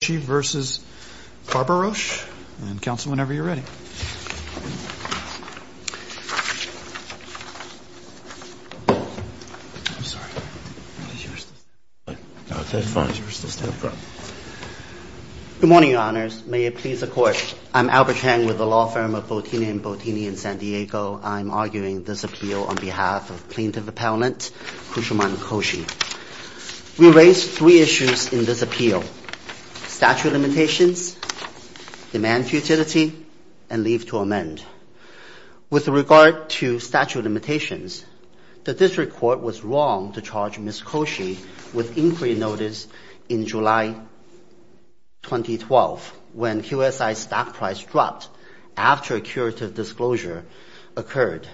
Good morning, Your Honors. May it please the Court, I am Albert Tang with the law firm of Bottini & Bottini in San Diego. I am arguing this appeal on behalf of Plaintiff Appellant Kusumam Koshy. We raise three issues in this appeal, statute of limitations, demand futility and leave to amend. With regard to statute of limitations, the District Court was wrong to charge Ms. Koshy with inquiry notice in July 2012 when QSI stock price dropped after a curative disclosure occurred.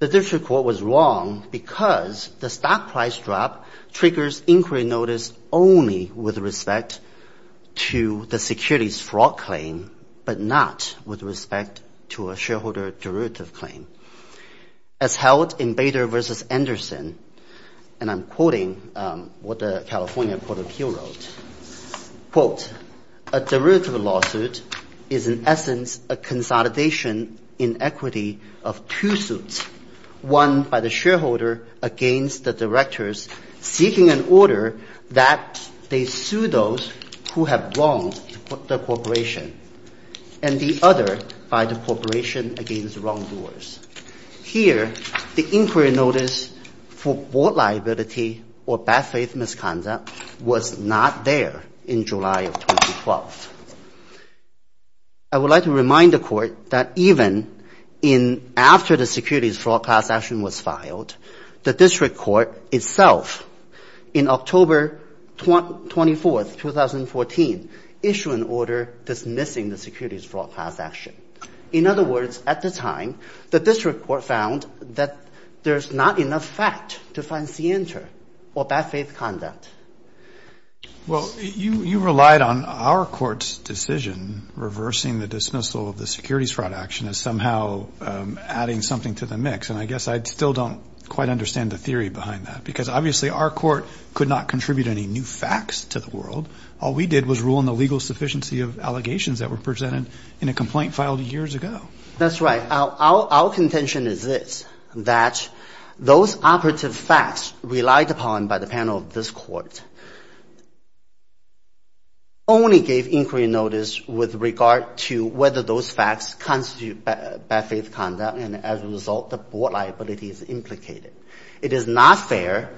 The District Court was wrong because the stock price drop triggers inquiry notice only with respect to the securities fraud claim, but not with respect to a shareholder derivative claim. As held in Bader v. Anderson, and I'm quoting what the California Court of Appeals wrote, quote, a derivative lawsuit is in essence a consolidation in equity of two suits, one by the shareholder against the directors seeking an order that they sue those who have wronged the corporation, and the other by the corporation against wrongdoers. Here, the inquiry notice for board liability or bad faith misconduct was not there in July of 2012. I would like to remind the Court that even after the securities fraud class action was filed, the District Court itself, in October 24, 2014, issued an order dismissing the securities fraud class action. In other words, at the time, the District Court found that there's not enough fact to find scienter or bad faith conduct. Well, you relied on our court's decision reversing the dismissal of the securities fraud action as somehow adding something to the mix, and I guess I still don't quite understand the theory behind that. Because obviously, our court could not contribute any new facts to the world. All we did was rule in the legal sufficiency of allegations that were presented in a complaint filed years ago. That's right. Our contention is this, that those operative facts relied upon by the panel of this court only gave inquiry notice with regard to whether those facts constitute bad faith conduct, and as a result, the board liability is implicated. It is not fair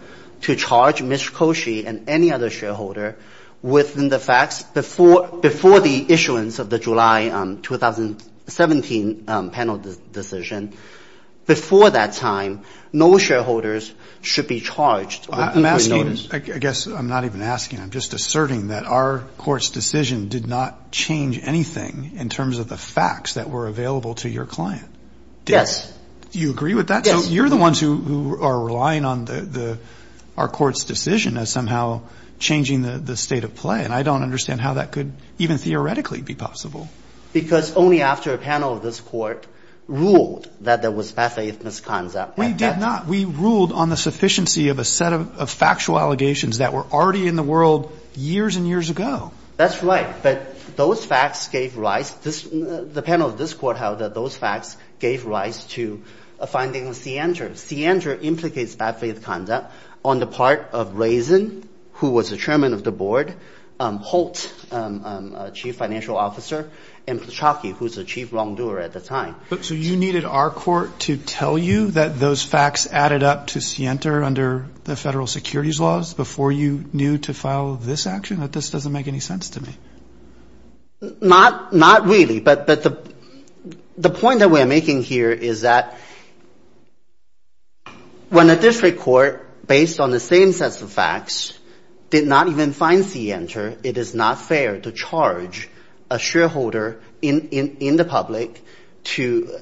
to any other shareholder within the facts before the issuance of the July 2017 panel decision. Before that time, no shareholders should be charged with inquiry notice. I guess I'm not even asking. I'm just asserting that our court's decision did not change anything in terms of the facts that were available to your client. Yes. Do you agree with that? Yes. You're the ones who are relying on the – our court's decision as somehow changing the state of play, and I don't understand how that could even theoretically be possible. Because only after a panel of this court ruled that there was bad faith misconduct at that time. We did not. We ruled on the sufficiency of a set of factual allegations that were already in the world years and years ago. That's right. But those facts gave rise – the panel of this court held that those Sienter implicates bad faith conduct on the part of Raison, who was the chairman of the board, Holt, chief financial officer, and Ptushoky, who was the chief wrongdoer at the time. So you needed our court to tell you that those facts added up to Sienter under the federal securities laws before you knew to file this action? That this doesn't make any sense to me. Not really, but the point that we're making here is that when a district court, based on the same sets of facts, did not even find Sienter, it is not fair to charge a shareholder in the public to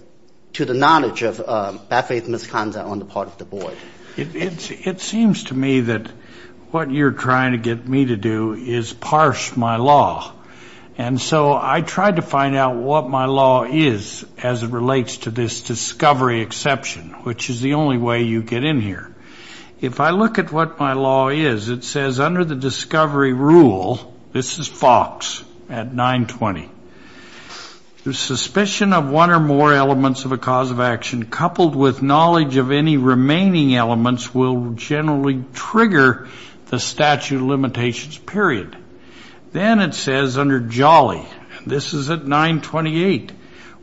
the knowledge of bad faith misconduct on the part of the board. It seems to me that what you're trying to get me to do is parse my law. And so I tried to find out what my law is as it relates to this discovery exception, which is the only way you get in here. If I look at what my law is, it says under the discovery rule, this is Fox at 920, the suspicion of one or more elements of a cause of action coupled with knowledge of any remaining elements will generally trigger the statute of limitations, period. Then it says under Jolly, this is at 928,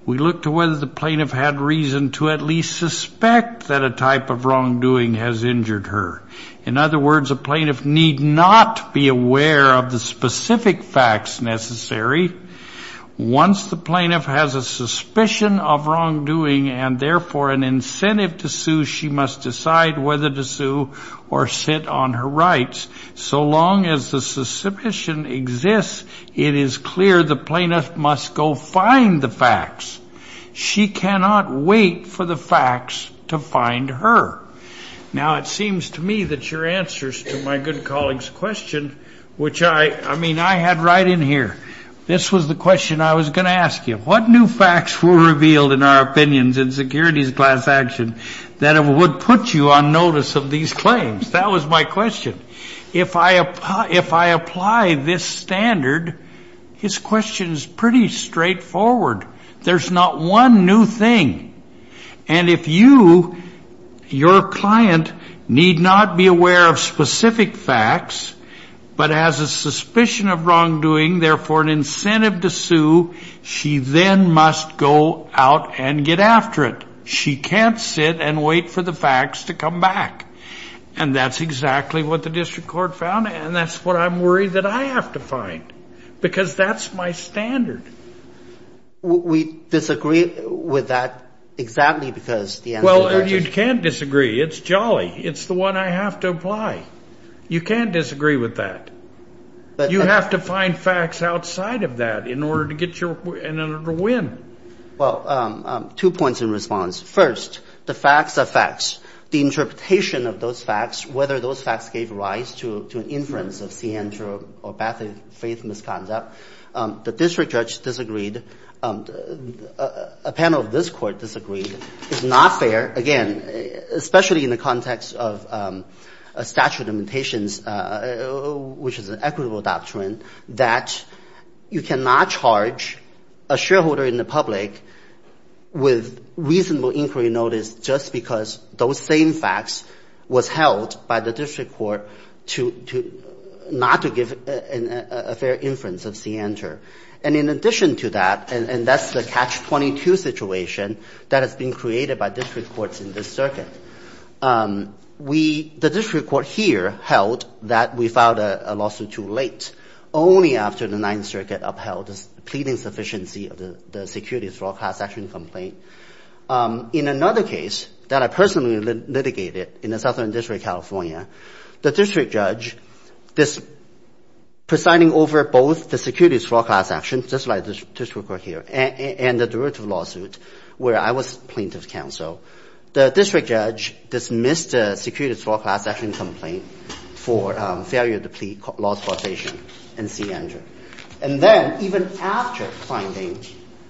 we look to whether the plaintiff had reason to at least suspect that a type of wrongdoing has injured her. In other words, a plaintiff need not be aware of the specific facts necessary. Once the plaintiff has a suspicion of wrongdoing and therefore an incentive to sue, she must decide whether to sue or sit on her rights. So long as the suspicion exists, it is clear the plaintiff must go find the facts. She cannot wait for the facts to find her. Now, it seems to me that your answers to my good colleague's question, which I mean, I had right in here, this was the question I was going to ask you. What new facts were revealed in our opinions in securities class action that would put you on notice of these claims? That was my question. If I apply this standard, his question is pretty straightforward. There's not one new thing. And if you, your client, need not be aware of specific facts, but has a suspicion of then must go out and get after it. She can't sit and wait for the facts to come back. And that's exactly what the district court found. And that's what I'm worried that I have to find. Because that's my standard. We disagree with that exactly because the answer to your question. Well, you can't disagree. It's jolly. It's the one I have to apply. You can't disagree with that. You have to find facts outside of that in order to get your, in order to win. Well, two points in response. First, the facts are facts. The interpretation of those facts, whether those facts gave rise to an inference of Ciancio or Bathe-Faith misconduct, the district judge disagreed, a panel of this court disagreed. It's not fair. Again, especially in the context of a statute of limitations, which is an equitable doctrine, that you cannot charge a shareholder in the public with reasonable inquiry notice just because those same facts was held by the district court to not to give a fair inference of Ciancio. And in addition to that, and that's the catch-22 situation that has been created by district courts in this circuit, we, the district court here held that we filed a lawsuit too late, only after the Ninth Circuit upheld the pleading sufficiency of the securities for all class action complaint. In another case that I personally litigated in the Southern District of California, the district judge, this presiding over both the securities for all class action, just like the district court here, and the derivative lawsuit, where I was plaintiff's counsel, the district judge dismissed the securities for all class action complaint for failure to plead, lost causation in Ciancio. And then, even after finding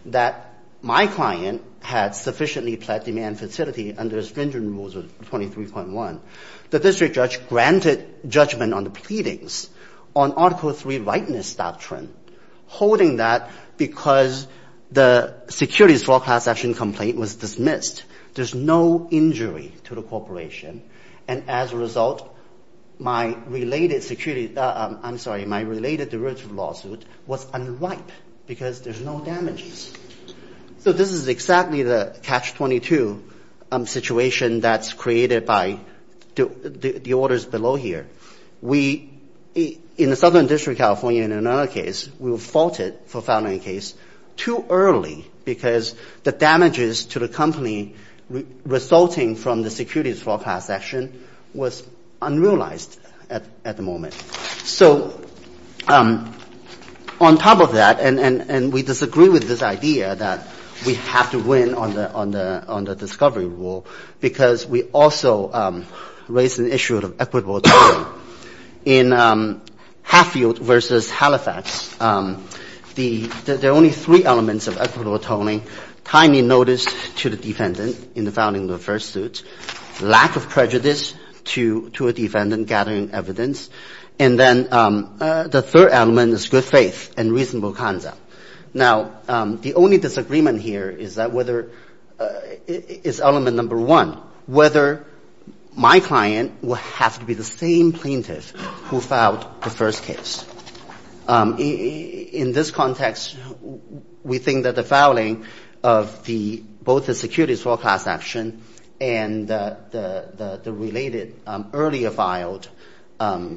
that my client had sufficiently pled demand facility under stringent rules of 23.1, the district judge granted judgment on the pleadings on Article 3 rightness doctrine, holding that because the securities for all class action complaint was dismissed. There's no injury to the corporation. And as a result, my related security, I'm sorry, my related derivative lawsuit was unripe because there's no damages. So, this is exactly the catch-22 situation that's created by the orders below here. We, in the Southern District of California, in another case, we faulted for filing a case too early because the damages to the company resulting from the securities for all class action was unrealized at the moment. So, on top of that, and we disagree with this idea that we have to win on the discovery rule because we also raised an issue of equitable atoning. In Hatfield v. Halifax, there are only three elements of equitable atoning, tiny notice to the defendant in the founding of the first suit, lack of prejudice to a defendant gathering evidence, and then the third element is good faith and reasonable conduct. Now, the only disagreement here is that whether, is element number one, whether my client will have to be the same plaintiff who filed the first case. In this context, we think that the fouling of both the securities for all class action and the related earlier filed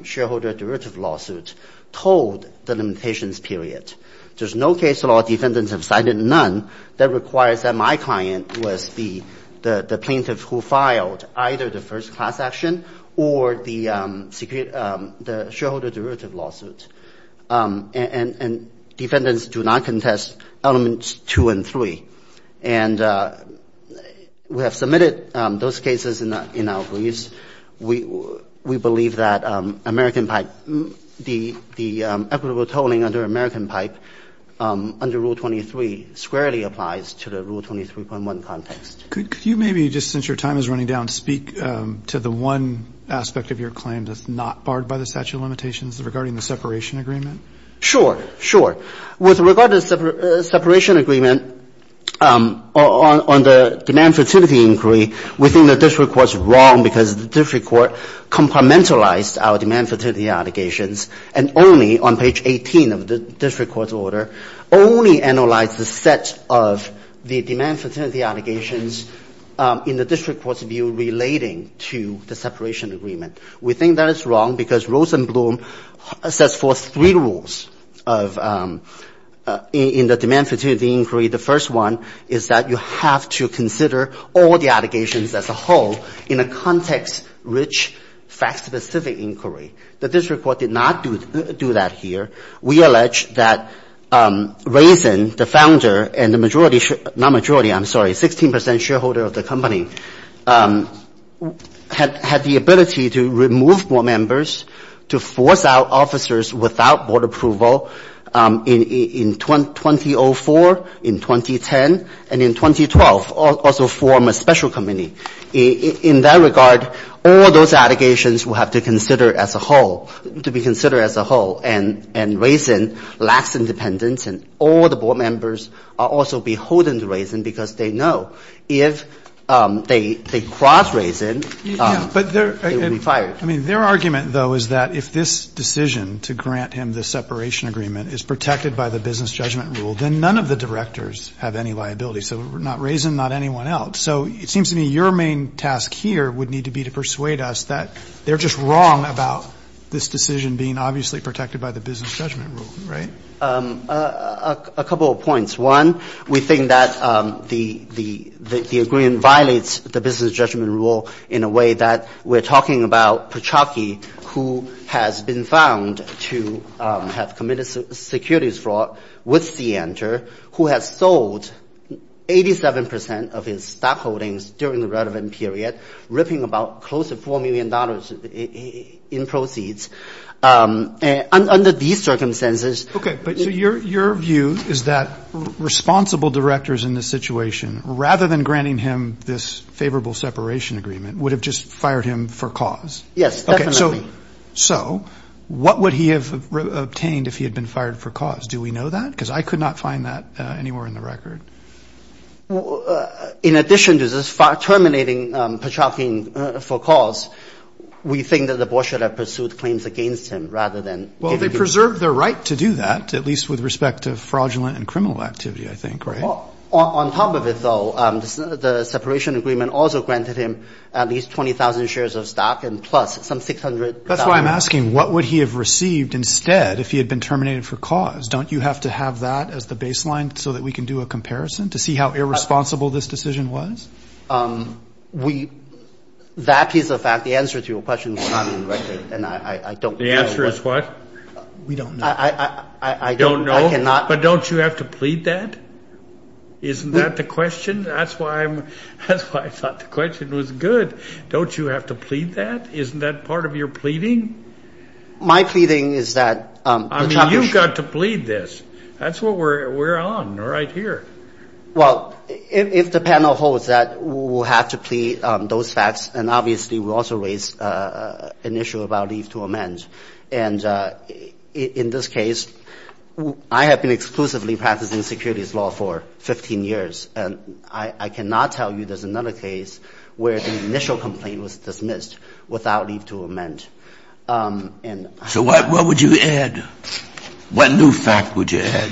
shareholder derivative lawsuit told the limitations period. There's no case law defendants have cited none that requires that my client was the plaintiff who filed either the first class action or the shareholder derivative lawsuit. And defendants do not contest elements two and three. And we have submitted those cases in our briefs. We believe that American pipe, the equitable atoning under American pipe under Rule 23 squarely applies to the Rule 23.1 context. Could you maybe, just since your time is running down, speak to the one aspect of your claim that's not barred by the statute of limitations regarding the separation agreement? Sure. Sure. With regard to the separation agreement on the demand fertility inquiry, we think that the district court's wrong because the district court complimentalized our demand fertility allegations and only on page 18 of the district court's order, only analyzed the set of the demand fertility allegations in the district court's view relating to the separation agreement. We think that is wrong because Rosenblum sets forth three rules in the demand fertility inquiry. The first one is that you have to consider all the allegations as a whole in a context rich fact specific inquiry. The district court did not do that here. We allege that Rosen, the founder and the majority, not majority, I'm sorry, 16% shareholder of the company, had the ability to remove board members, to force out officers without board approval in 2004, in 2010, and in 2012, also form a special committee. In that regard, all those allegations will have to consider as a whole, to be considered as a whole. And Rosen lacks independence and all the board members are also beholden to Rosen because they know if they cross Rosen, they will be fired. Their argument, though, is that if this decision to grant him the separation agreement is protected by the business judgment rule, then none of the directors have any liability, so not Rosen, not anyone else. So it seems to me your main task here would need to be to persuade us that they're just wrong about this decision being obviously protected by the business judgment rule, right? A couple of points. One, we think that the agreement violates the business judgment rule in a way that we're talking about Pachocki, who has been found to have committed securities fraud with Sienter, who has sold 87% of his stock holdings during the relevant period, ripping about close to $4 million in proceeds. Under these circumstances— Okay, but your view is that responsible directors in this situation, rather than granting him this favorable separation agreement, would have just fired him for cause? Yes, definitely. So what would he have obtained if he had been fired for cause? Do we know that? Because I could not find that anywhere in the record. In addition to this terminating Pachocki for cause, we think that the board should have pursued claims against him rather than— Well, they preserved their right to do that, at least with respect to fraudulent and criminal activity, I think, right? On top of it, though, the separation agreement also granted him at least 20,000 shares of stock and plus some $600,000. That's why I'm asking, what would he have received instead if he had been terminated for cause? Don't you have to have that as the baseline so that we can do a comparison to see how irresponsible this decision was? That is a fact. The answer to your question will not be in the record, and I don't— The answer is what? We don't know. I don't know. I cannot— Isn't that the question? That's why I thought the question was good. Don't you have to plead that? Isn't that part of your pleading? My pleading is that— I mean, you've got to plead this. That's what we're on right here. Well, if the panel holds that, we'll have to plead those facts, and obviously we also raise an issue about leave to amend. And in this case, I have been exclusively practicing securities law for 15 years, and I cannot tell you there's another case where the initial complaint was dismissed without leave to amend. So what would you add? What new fact would you add?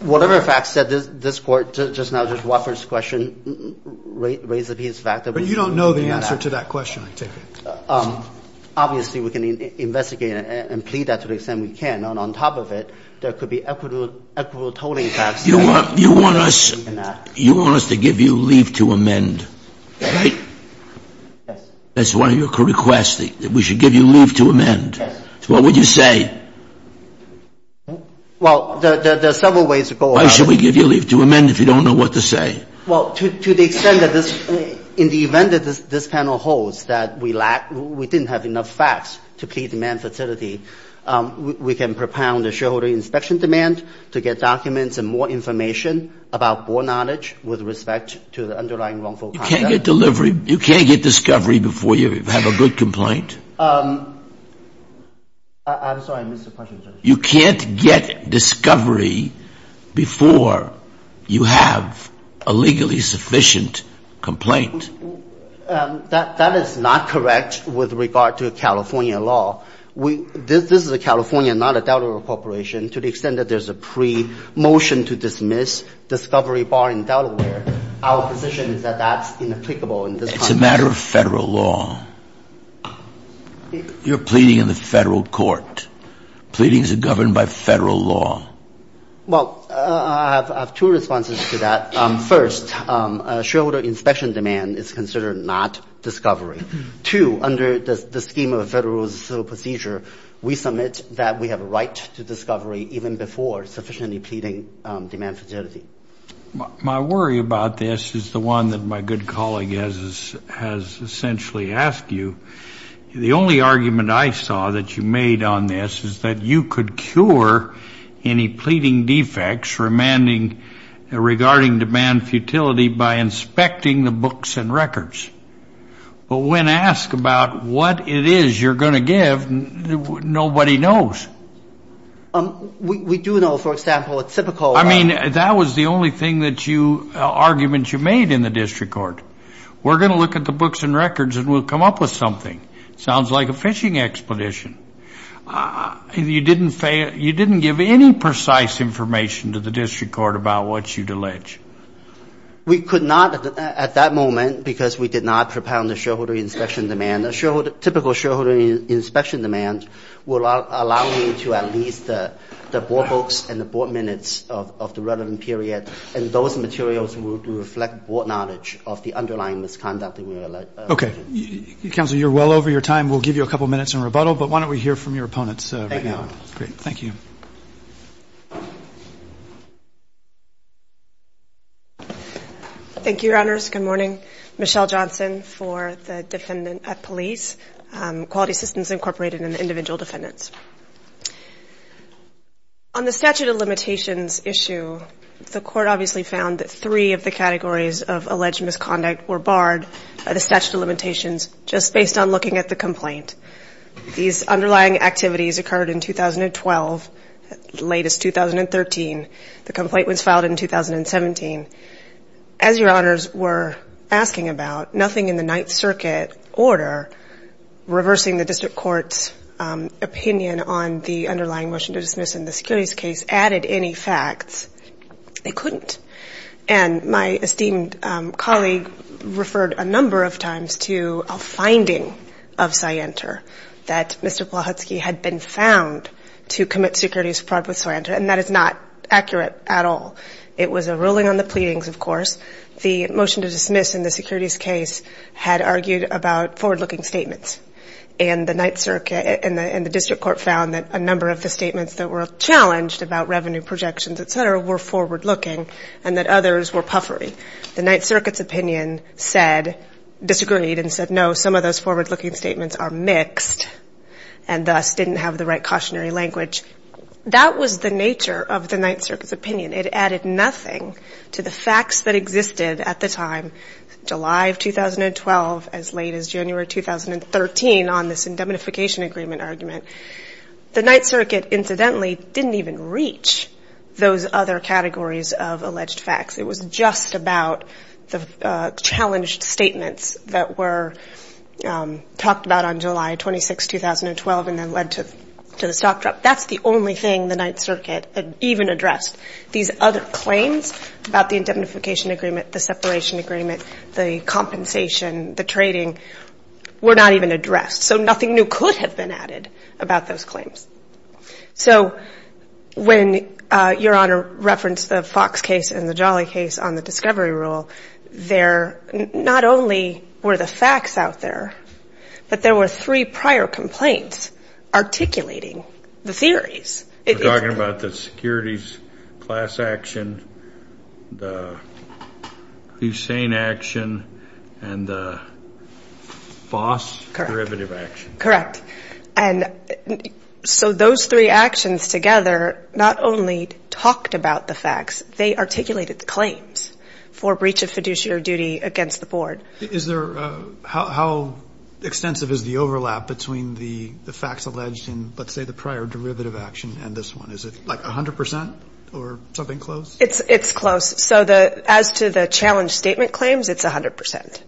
Whatever fact said, this Court just now just whoppers the question, raises the fact that we— But you don't know the answer to that question, I take it? Obviously, we can investigate and plead that to the extent we can, and on top of it, there could be equitable tolling facts— You want us to give you leave to amend, right? Yes. That's one of your requests, that we should give you leave to amend. Yes. What would you say? Well, there are several ways to go about it. Why should we give you leave to amend if you don't know what to say? Well, to the extent that this—in the event that this panel holds that we didn't have enough facts to plead to amend facility, we can propound a shareholder inspection demand to get documents and more information about board knowledge with respect to the underlying wrongful conduct. You can't get discovery before you have a good complaint? I'm sorry, I missed the question. You can't get discovery before you have a legally sufficient complaint? That is not correct with regard to California law. This is a California, not a Delaware corporation. To the extent that there's a pre-motion to dismiss discovery bar in Delaware, our position is that that's inapplicable in this context. It's a matter of federal law. You're pleading in the federal court. Pleadings are governed by federal law. Well, I have two responses to that. First, shareholder inspection demand is considered not discovery. Two, under the scheme of a federal civil procedure, we submit that we have a right to discovery even before sufficiently pleading demand facility. My worry about this is the one that my good colleague has essentially asked you. The only argument I saw that you made on this is that you could cure any pleading defects remanding regarding demand futility by inspecting the books and records. But when asked about what it is you're going to give, nobody knows. We do know, for example, a typical- I mean, that was the only argument you made in the district court. We're going to look at the books and records and we'll come up with something. It sounds like a fishing expedition. You didn't give any precise information to the district court about what you'd allege. We could not at that moment because we did not propound the shareholder inspection demand. Typical shareholder inspection demand would allow me to at least the board books and the records of the relevant period and those materials would reflect board knowledge of the underlying misconduct that we allege. Okay. Counsel, you're well over your time. We'll give you a couple minutes in rebuttal, but why don't we hear from your opponents right now? Great. Thank you. Thank you, Your Honors. Good morning. Michelle Johnson for the defendant at police, Quality Systems Incorporated and the individual defendants. On the statute of limitations issue, the court obviously found that three of the categories of alleged misconduct were barred by the statute of limitations just based on looking at the complaint. These underlying activities occurred in 2012, the latest 2013. The complaint was filed in 2017. As Your Honors were asking about, nothing in the Ninth Circuit order reversing the district court's opinion on the underlying motion to dismiss in the securities case added any facts. They couldn't. And my esteemed colleague referred a number of times to a finding of Scienter that Mr. Blahutsky had been found to commit securities fraud with Scienter and that is not accurate at all. It was a ruling on the pleadings, of course. The motion to dismiss in the securities case had argued about forward-looking statements and the district court found that a number of the statements that were challenged about revenue projections, et cetera, were forward-looking and that others were puffery. The Ninth Circuit's opinion disagreed and said, no, some of those forward-looking statements are mixed and thus didn't have the right cautionary language. That was the nature of the Ninth Circuit's opinion. It added nothing to the facts that existed at the time, July of 2012 as late as January 2013 on this indemnification agreement argument. The Ninth Circuit, incidentally, didn't even reach those other categories of alleged facts. It was just about the challenged statements that were talked about on July 26, 2012 and then led to the stock drop. That's the only thing the Ninth Circuit even addressed. These other claims about the indemnification agreement, the separation agreement, the compensation, the trading were not even addressed. So nothing new could have been added about those claims. So when Your Honor referenced the Fox case and the Jolly case on the discovery rule, there not only were the facts out there, but there were three prior complaints articulating the theories. We're talking about the securities class action, the Hussein action, and the Foss derivative action. Correct. And so those three actions together not only talked about the facts, they articulated the claims for breach of fiduciary duty against the board. Is there, how extensive is the overlap between the facts alleged in, let's say, the prior derivative action and this one? Is it like 100 percent or something close? It's close. So as to the challenged statement claims, it's 100 percent.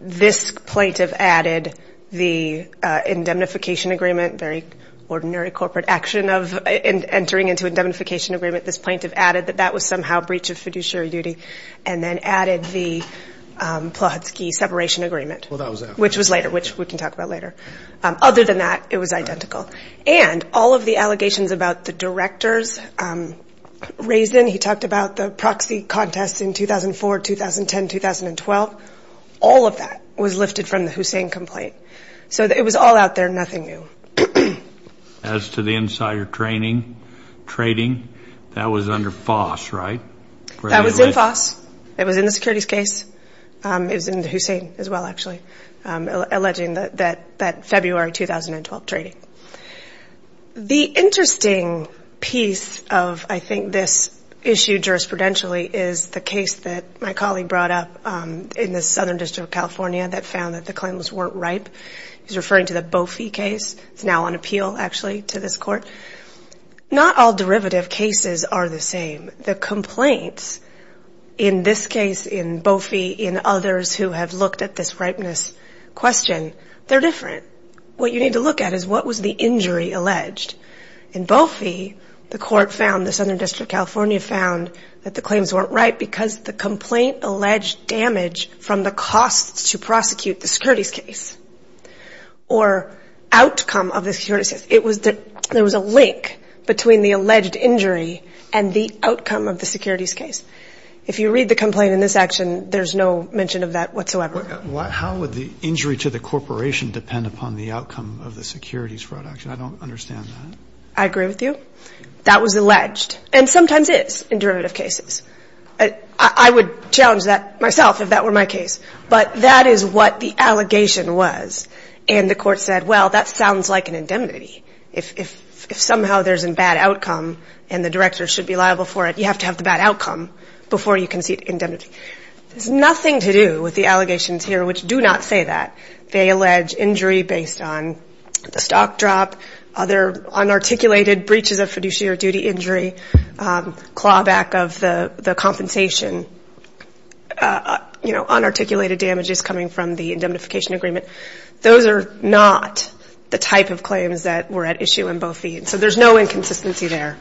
This plaintiff added the indemnification agreement, very ordinary corporate action of entering into indemnification agreement. This plaintiff added that that was somehow breach of fiduciary duty and then added the Plohutsky separation agreement, which was later, which we can talk about later. Other than that, it was identical. And all of the allegations about the directors raised in, he talked about the proxy contest in 2004, 2010, 2012, all of that was lifted from the Hussein complaint. So it was all out there, nothing new. As to the insider trading, that was under Foss, right? That was in Foss. It was in the securities case. It was in Hussein as well, actually, alleging that February 2012 trading. The interesting piece of, I think, this issue jurisprudentially is the case that my colleague brought up in the Southern District of California that found that the claims weren't ripe. He's referring to the Bofi case. It's now on appeal, actually, to this court. Not all derivative cases are the same. The complaints in this case, in Bofi, in others who have looked at this ripeness question, they're different. What you need to look at is what was the injury alleged. In Bofi, the court found, the Southern District of California found that the claims weren't ripe because the complaint alleged damage from the costs to prosecute the securities case or outcome of the securities case. There was a link between the alleged injury and the outcome of the securities case. If you read the complaint in this action, there's no mention of that whatsoever. How would the injury to the corporation depend upon the outcome of the securities fraud action? I don't understand that. I agree with you. That was alleged and sometimes is in derivative cases. I would challenge that myself if that were my case, but that is what the allegation was. And the court said, well, that sounds like an indemnity. If somehow there's a bad outcome and the director should be liable for it, you have to have the bad outcome before you can see indemnity. There's nothing to do with the allegations here, which do not say that. They allege injury based on the stock drop, other unarticulated breaches of fiduciary duty injury, clawback of the compensation. Unarticulated damages coming from the indemnification agreement. Those are not the type of claims that were at issue in both fees. So there's no inconsistency there,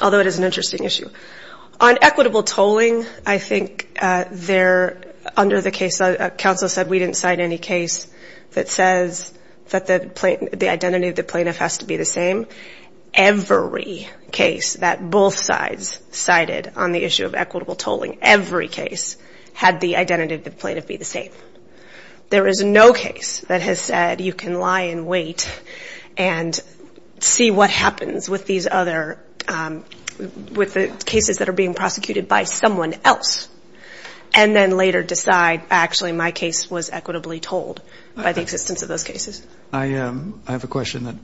although it is an interesting issue. On equitable tolling, I think they're under the case, council said we didn't cite any case that says that the identity of the plaintiff has to be the same. Every case that both sides cited on the issue of equitable tolling, every case had the identity of the plaintiff be the same. There is no case that has said you can lie and wait and see what happens with the cases that are being prosecuted by someone else. And then later decide actually my case was equitably tolled by the existence of those cases. I have a question that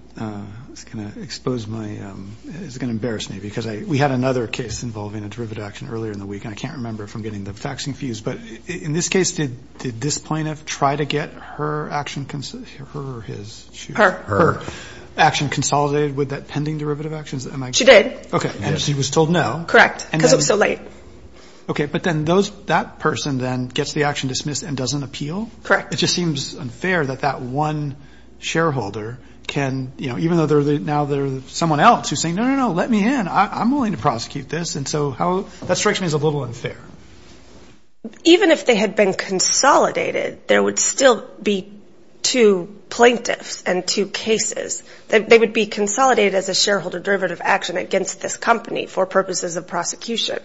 is going to expose my, is going to embarrass me. Because we had another case involving a derivative action earlier in the week. And I can't remember if I'm getting the facts confused. But in this case, did this plaintiff try to get her action, her or his? Her. Her. Action consolidated with that pending derivative actions? She did. Okay, and she was told no. Correct, because it was so late. Okay, but then that person then gets the action dismissed and doesn't appeal? Correct. It just seems unfair that that one shareholder can, even though now there's someone else who's saying, no, no, no, let me in, I'm willing to prosecute this. And so that strikes me as a little unfair. Even if they had been consolidated, there would still be two plaintiffs and two cases that they would be consolidated as a shareholder derivative action against this company for purposes of prosecution.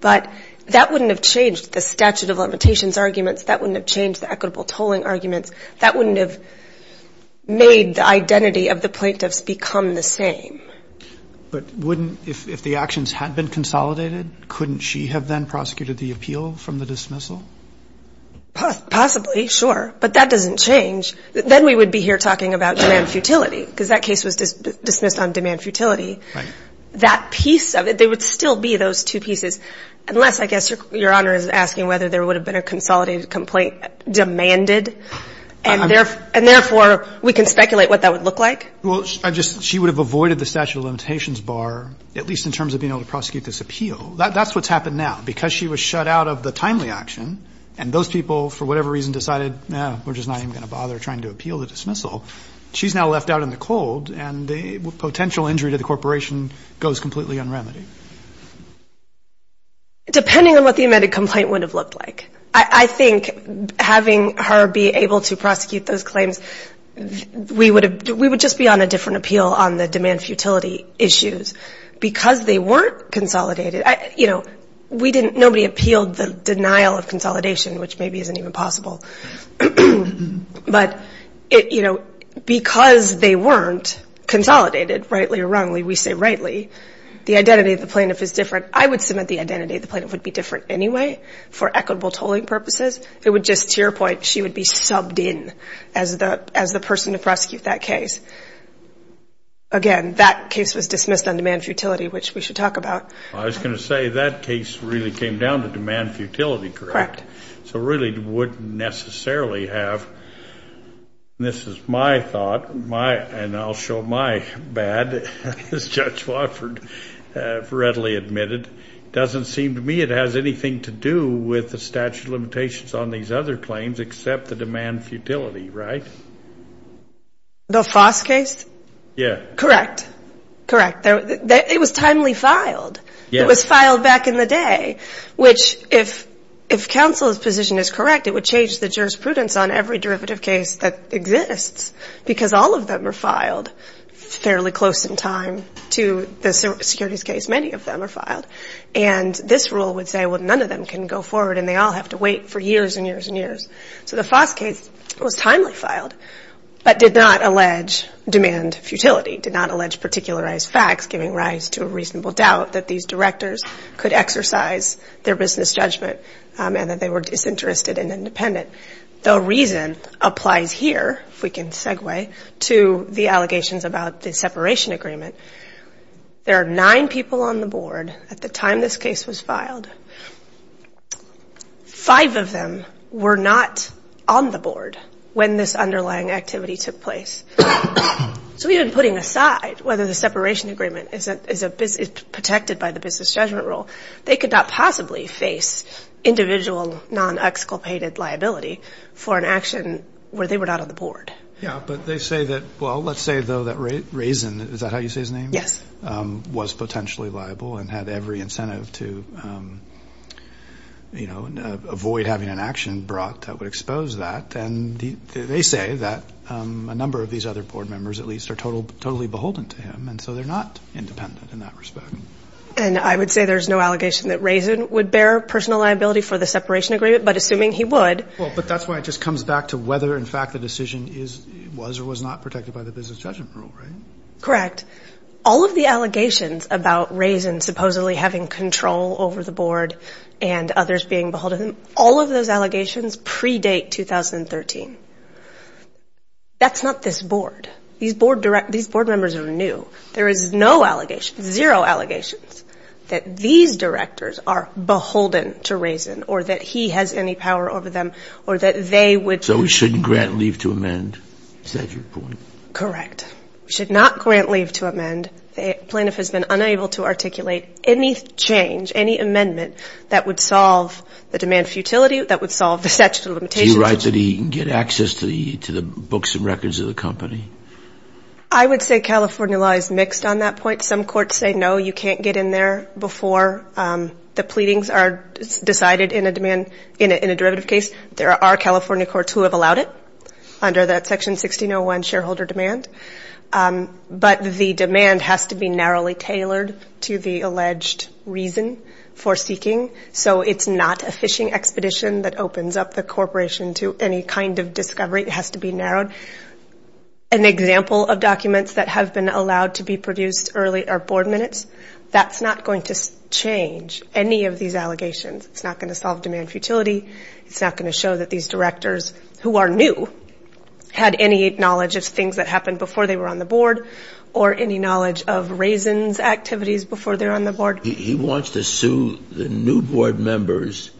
But that wouldn't have changed the statute of limitations arguments. That wouldn't have changed the equitable tolling arguments. That wouldn't have made the identity of the plaintiffs become the same. But wouldn't, if the actions had been consolidated, couldn't she have then prosecuted the appeal from the dismissal? Possibly, sure. But that doesn't change. Then we would be here talking about demand futility, because that case was dismissed on demand futility. Right. That piece of it, there would still be those two pieces. Unless, I guess, your honor is asking whether there would have been a consolidated complaint demanded, and therefore, we can speculate what that would look like. Well, I just, she would have avoided the statute of limitations bar, at least in terms of being able to prosecute this appeal. That's what's happened now. Because she was shut out of the timely action, and those people, for whatever reason, decided, nah, we're just not even going to bother trying to appeal the dismissal, she's now left out in the cold, and the potential injury to the corporation goes completely unremitted. Depending on what the amended complaint would have looked like. I think having her be able to prosecute those claims, we would just be on a different appeal on the demand futility issues. Because they weren't consolidated, nobody appealed the denial of consolidation, which maybe isn't even possible. But because they weren't consolidated, rightly or wrongly, we say rightly, the identity of the plaintiff is different. I would submit the identity of the plaintiff would be different anyway, for equitable tolling purposes, it would just, to your point, she would be subbed in as the person to prosecute that case. Again, that case was dismissed on demand futility, which we should talk about. I was going to say, that case really came down to demand futility, correct? Correct. So really wouldn't necessarily have, this is my thought, and I'll show my bad, as Judge Wofford readily admitted. Doesn't seem to me it has anything to do with the statute of limitations on these other claims except the demand futility, right? The Foss case? Yeah. Correct. Correct. It was timely filed. It was filed back in the day, which if counsel's position is correct, it would change the jurisprudence on every derivative case that exists. Because all of them are filed fairly close in time to the securities case. Many of them are filed. And this rule would say, well, none of them can go forward, and they all have to wait for years and years and years. So the Foss case was timely filed, but did not allege demand futility, did not allege particularized facts, giving rise to a reasonable doubt that these directors could exercise their business judgment, and that they were disinterested and independent. The reason applies here, if we can segue, to the allegations about the separation agreement. There are nine people on the board at the time this case was filed. Five of them were not on the board when this underlying activity took place. So even putting aside whether the separation agreement is protected by the business judgment rule, they could not possibly face individual non-exculpated liability for an action where they were not on the board. Yeah, but they say that, well, let's say though that Raisin, is that how you say his name? Yes. Was potentially liable and had every incentive to avoid having an action brought that would expose that. And they say that a number of these other board members, at least, are totally beholden to him. And so they're not independent in that respect. And I would say there's no allegation that Raisin would bear personal liability for the separation agreement, but assuming he would. Well, but that's why it just comes back to whether, in fact, the decision was or was not protected by the business judgment rule, right? Correct. All of the allegations about Raisin supposedly having control over the board and others being beholden, all of those allegations predate 2013. That's not this board. These board members are new. There is no allegation, zero allegations, that these directors are beholden to Raisin or that he has any power over them or that they would. So we shouldn't grant leave to amend? Is that your point? Correct. We should not grant leave to amend. The plaintiff has been unable to articulate any change, any amendment that would solve the demand futility, that would solve the statute of limitations. Do you write that he can get access to the books and records of the company? I would say California law is mixed on that point. Some courts say, no, you can't get in there before the pleadings are decided in a demand, in a derivative case. There are California courts who have allowed it under that Section 1601 shareholder demand. But the demand has to be narrowly tailored to the alleged reason for seeking. So it's not a fishing expedition that opens up the corporation to any kind of discovery. It has to be narrowed. An example of documents that have been allowed to be produced early are board minutes. That's not going to change any of these allegations. It's not going to solve demand futility. It's not going to show that these directors, who are new, had any knowledge of things that happened before they were on the board, or any knowledge of raisins activities before they were on the board. He wants to sue the new board members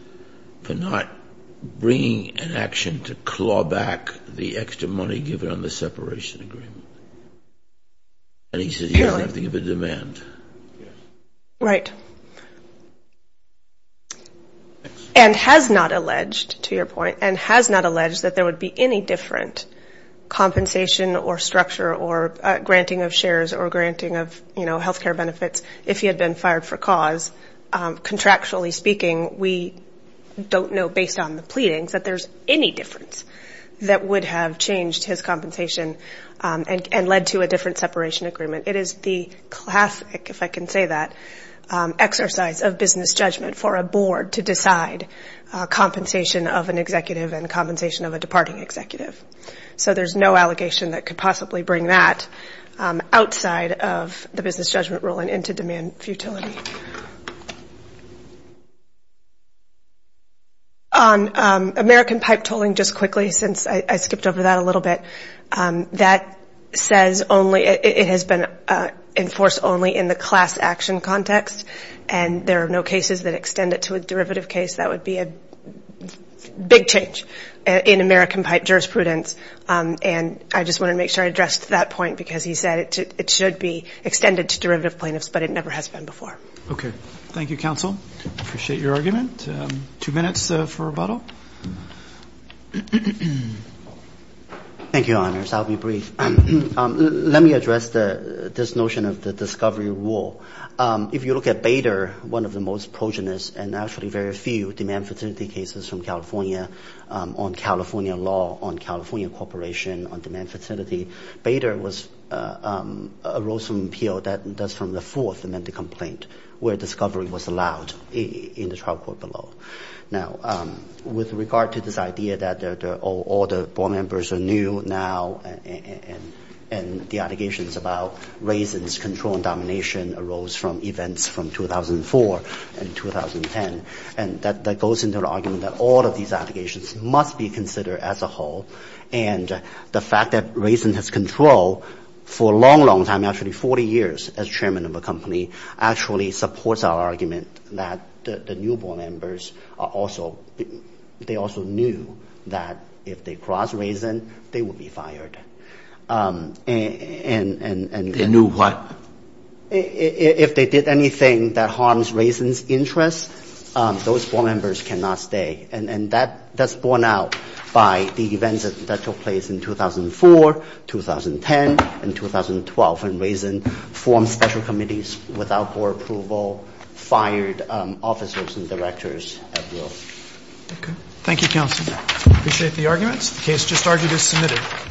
for not bringing an action to claw back the extra money given on the separation agreement. And he says he doesn't have to give a demand. Right. And has not alleged, to your point, and has not alleged that there would be any different compensation or structure or granting of shares or granting of health care benefits if he had been fired for cause. Contractually speaking, we don't know, based on the pleadings, that there's any difference that would have changed his compensation and led to a different separation agreement. It is the classic, if I can say that, exercise of business judgment for a board to decide compensation of an executive and compensation of a departing executive. So there's no allegation that could possibly bring that outside of the business judgment rule and into demand futility. On American pipe tolling, just quickly, since I skipped over that a little bit, that says only, it has been enforced only in the class action context. And there are no cases that extend it to a derivative case. That would be a big change in American pipe jurisprudence. And I just wanted to make sure I addressed that point, because he said it should be extended to derivative plaintiffs, but it never has been before. Okay. Thank you, counsel. I appreciate your argument. Two minutes for rebuttal. Thank you, your honors. I'll be brief. Let me address this notion of the discovery rule. If you look at Bader, one of the most progenist and actually very few demand futility cases from California on California law, on California corporation on demand futility, Bader was a role from appeal that's from the fourth amended complaint where discovery was allowed in the trial court below. Now, with regard to this idea that all the board members are new now and the allegations about Raisin's control and domination arose from events from 2004 and 2010, and that goes into the argument that all of these allegations must be considered as a whole. And the fact that Raisin has control for a long, long time, actually 40 years as chairman of a company, actually supports our argument that the new board members are also, they also knew that if they cross Raisin, they would be fired. They knew what? If they did anything that harms Raisin's interest, those board members cannot stay. And that's borne out by the events that took place in 2004, 2010, and 2012. Often Raisin formed special committees without board approval, fired officers and directors at will. Okay. Thank you, counsel. Appreciate the arguments. The case just argued is submitted.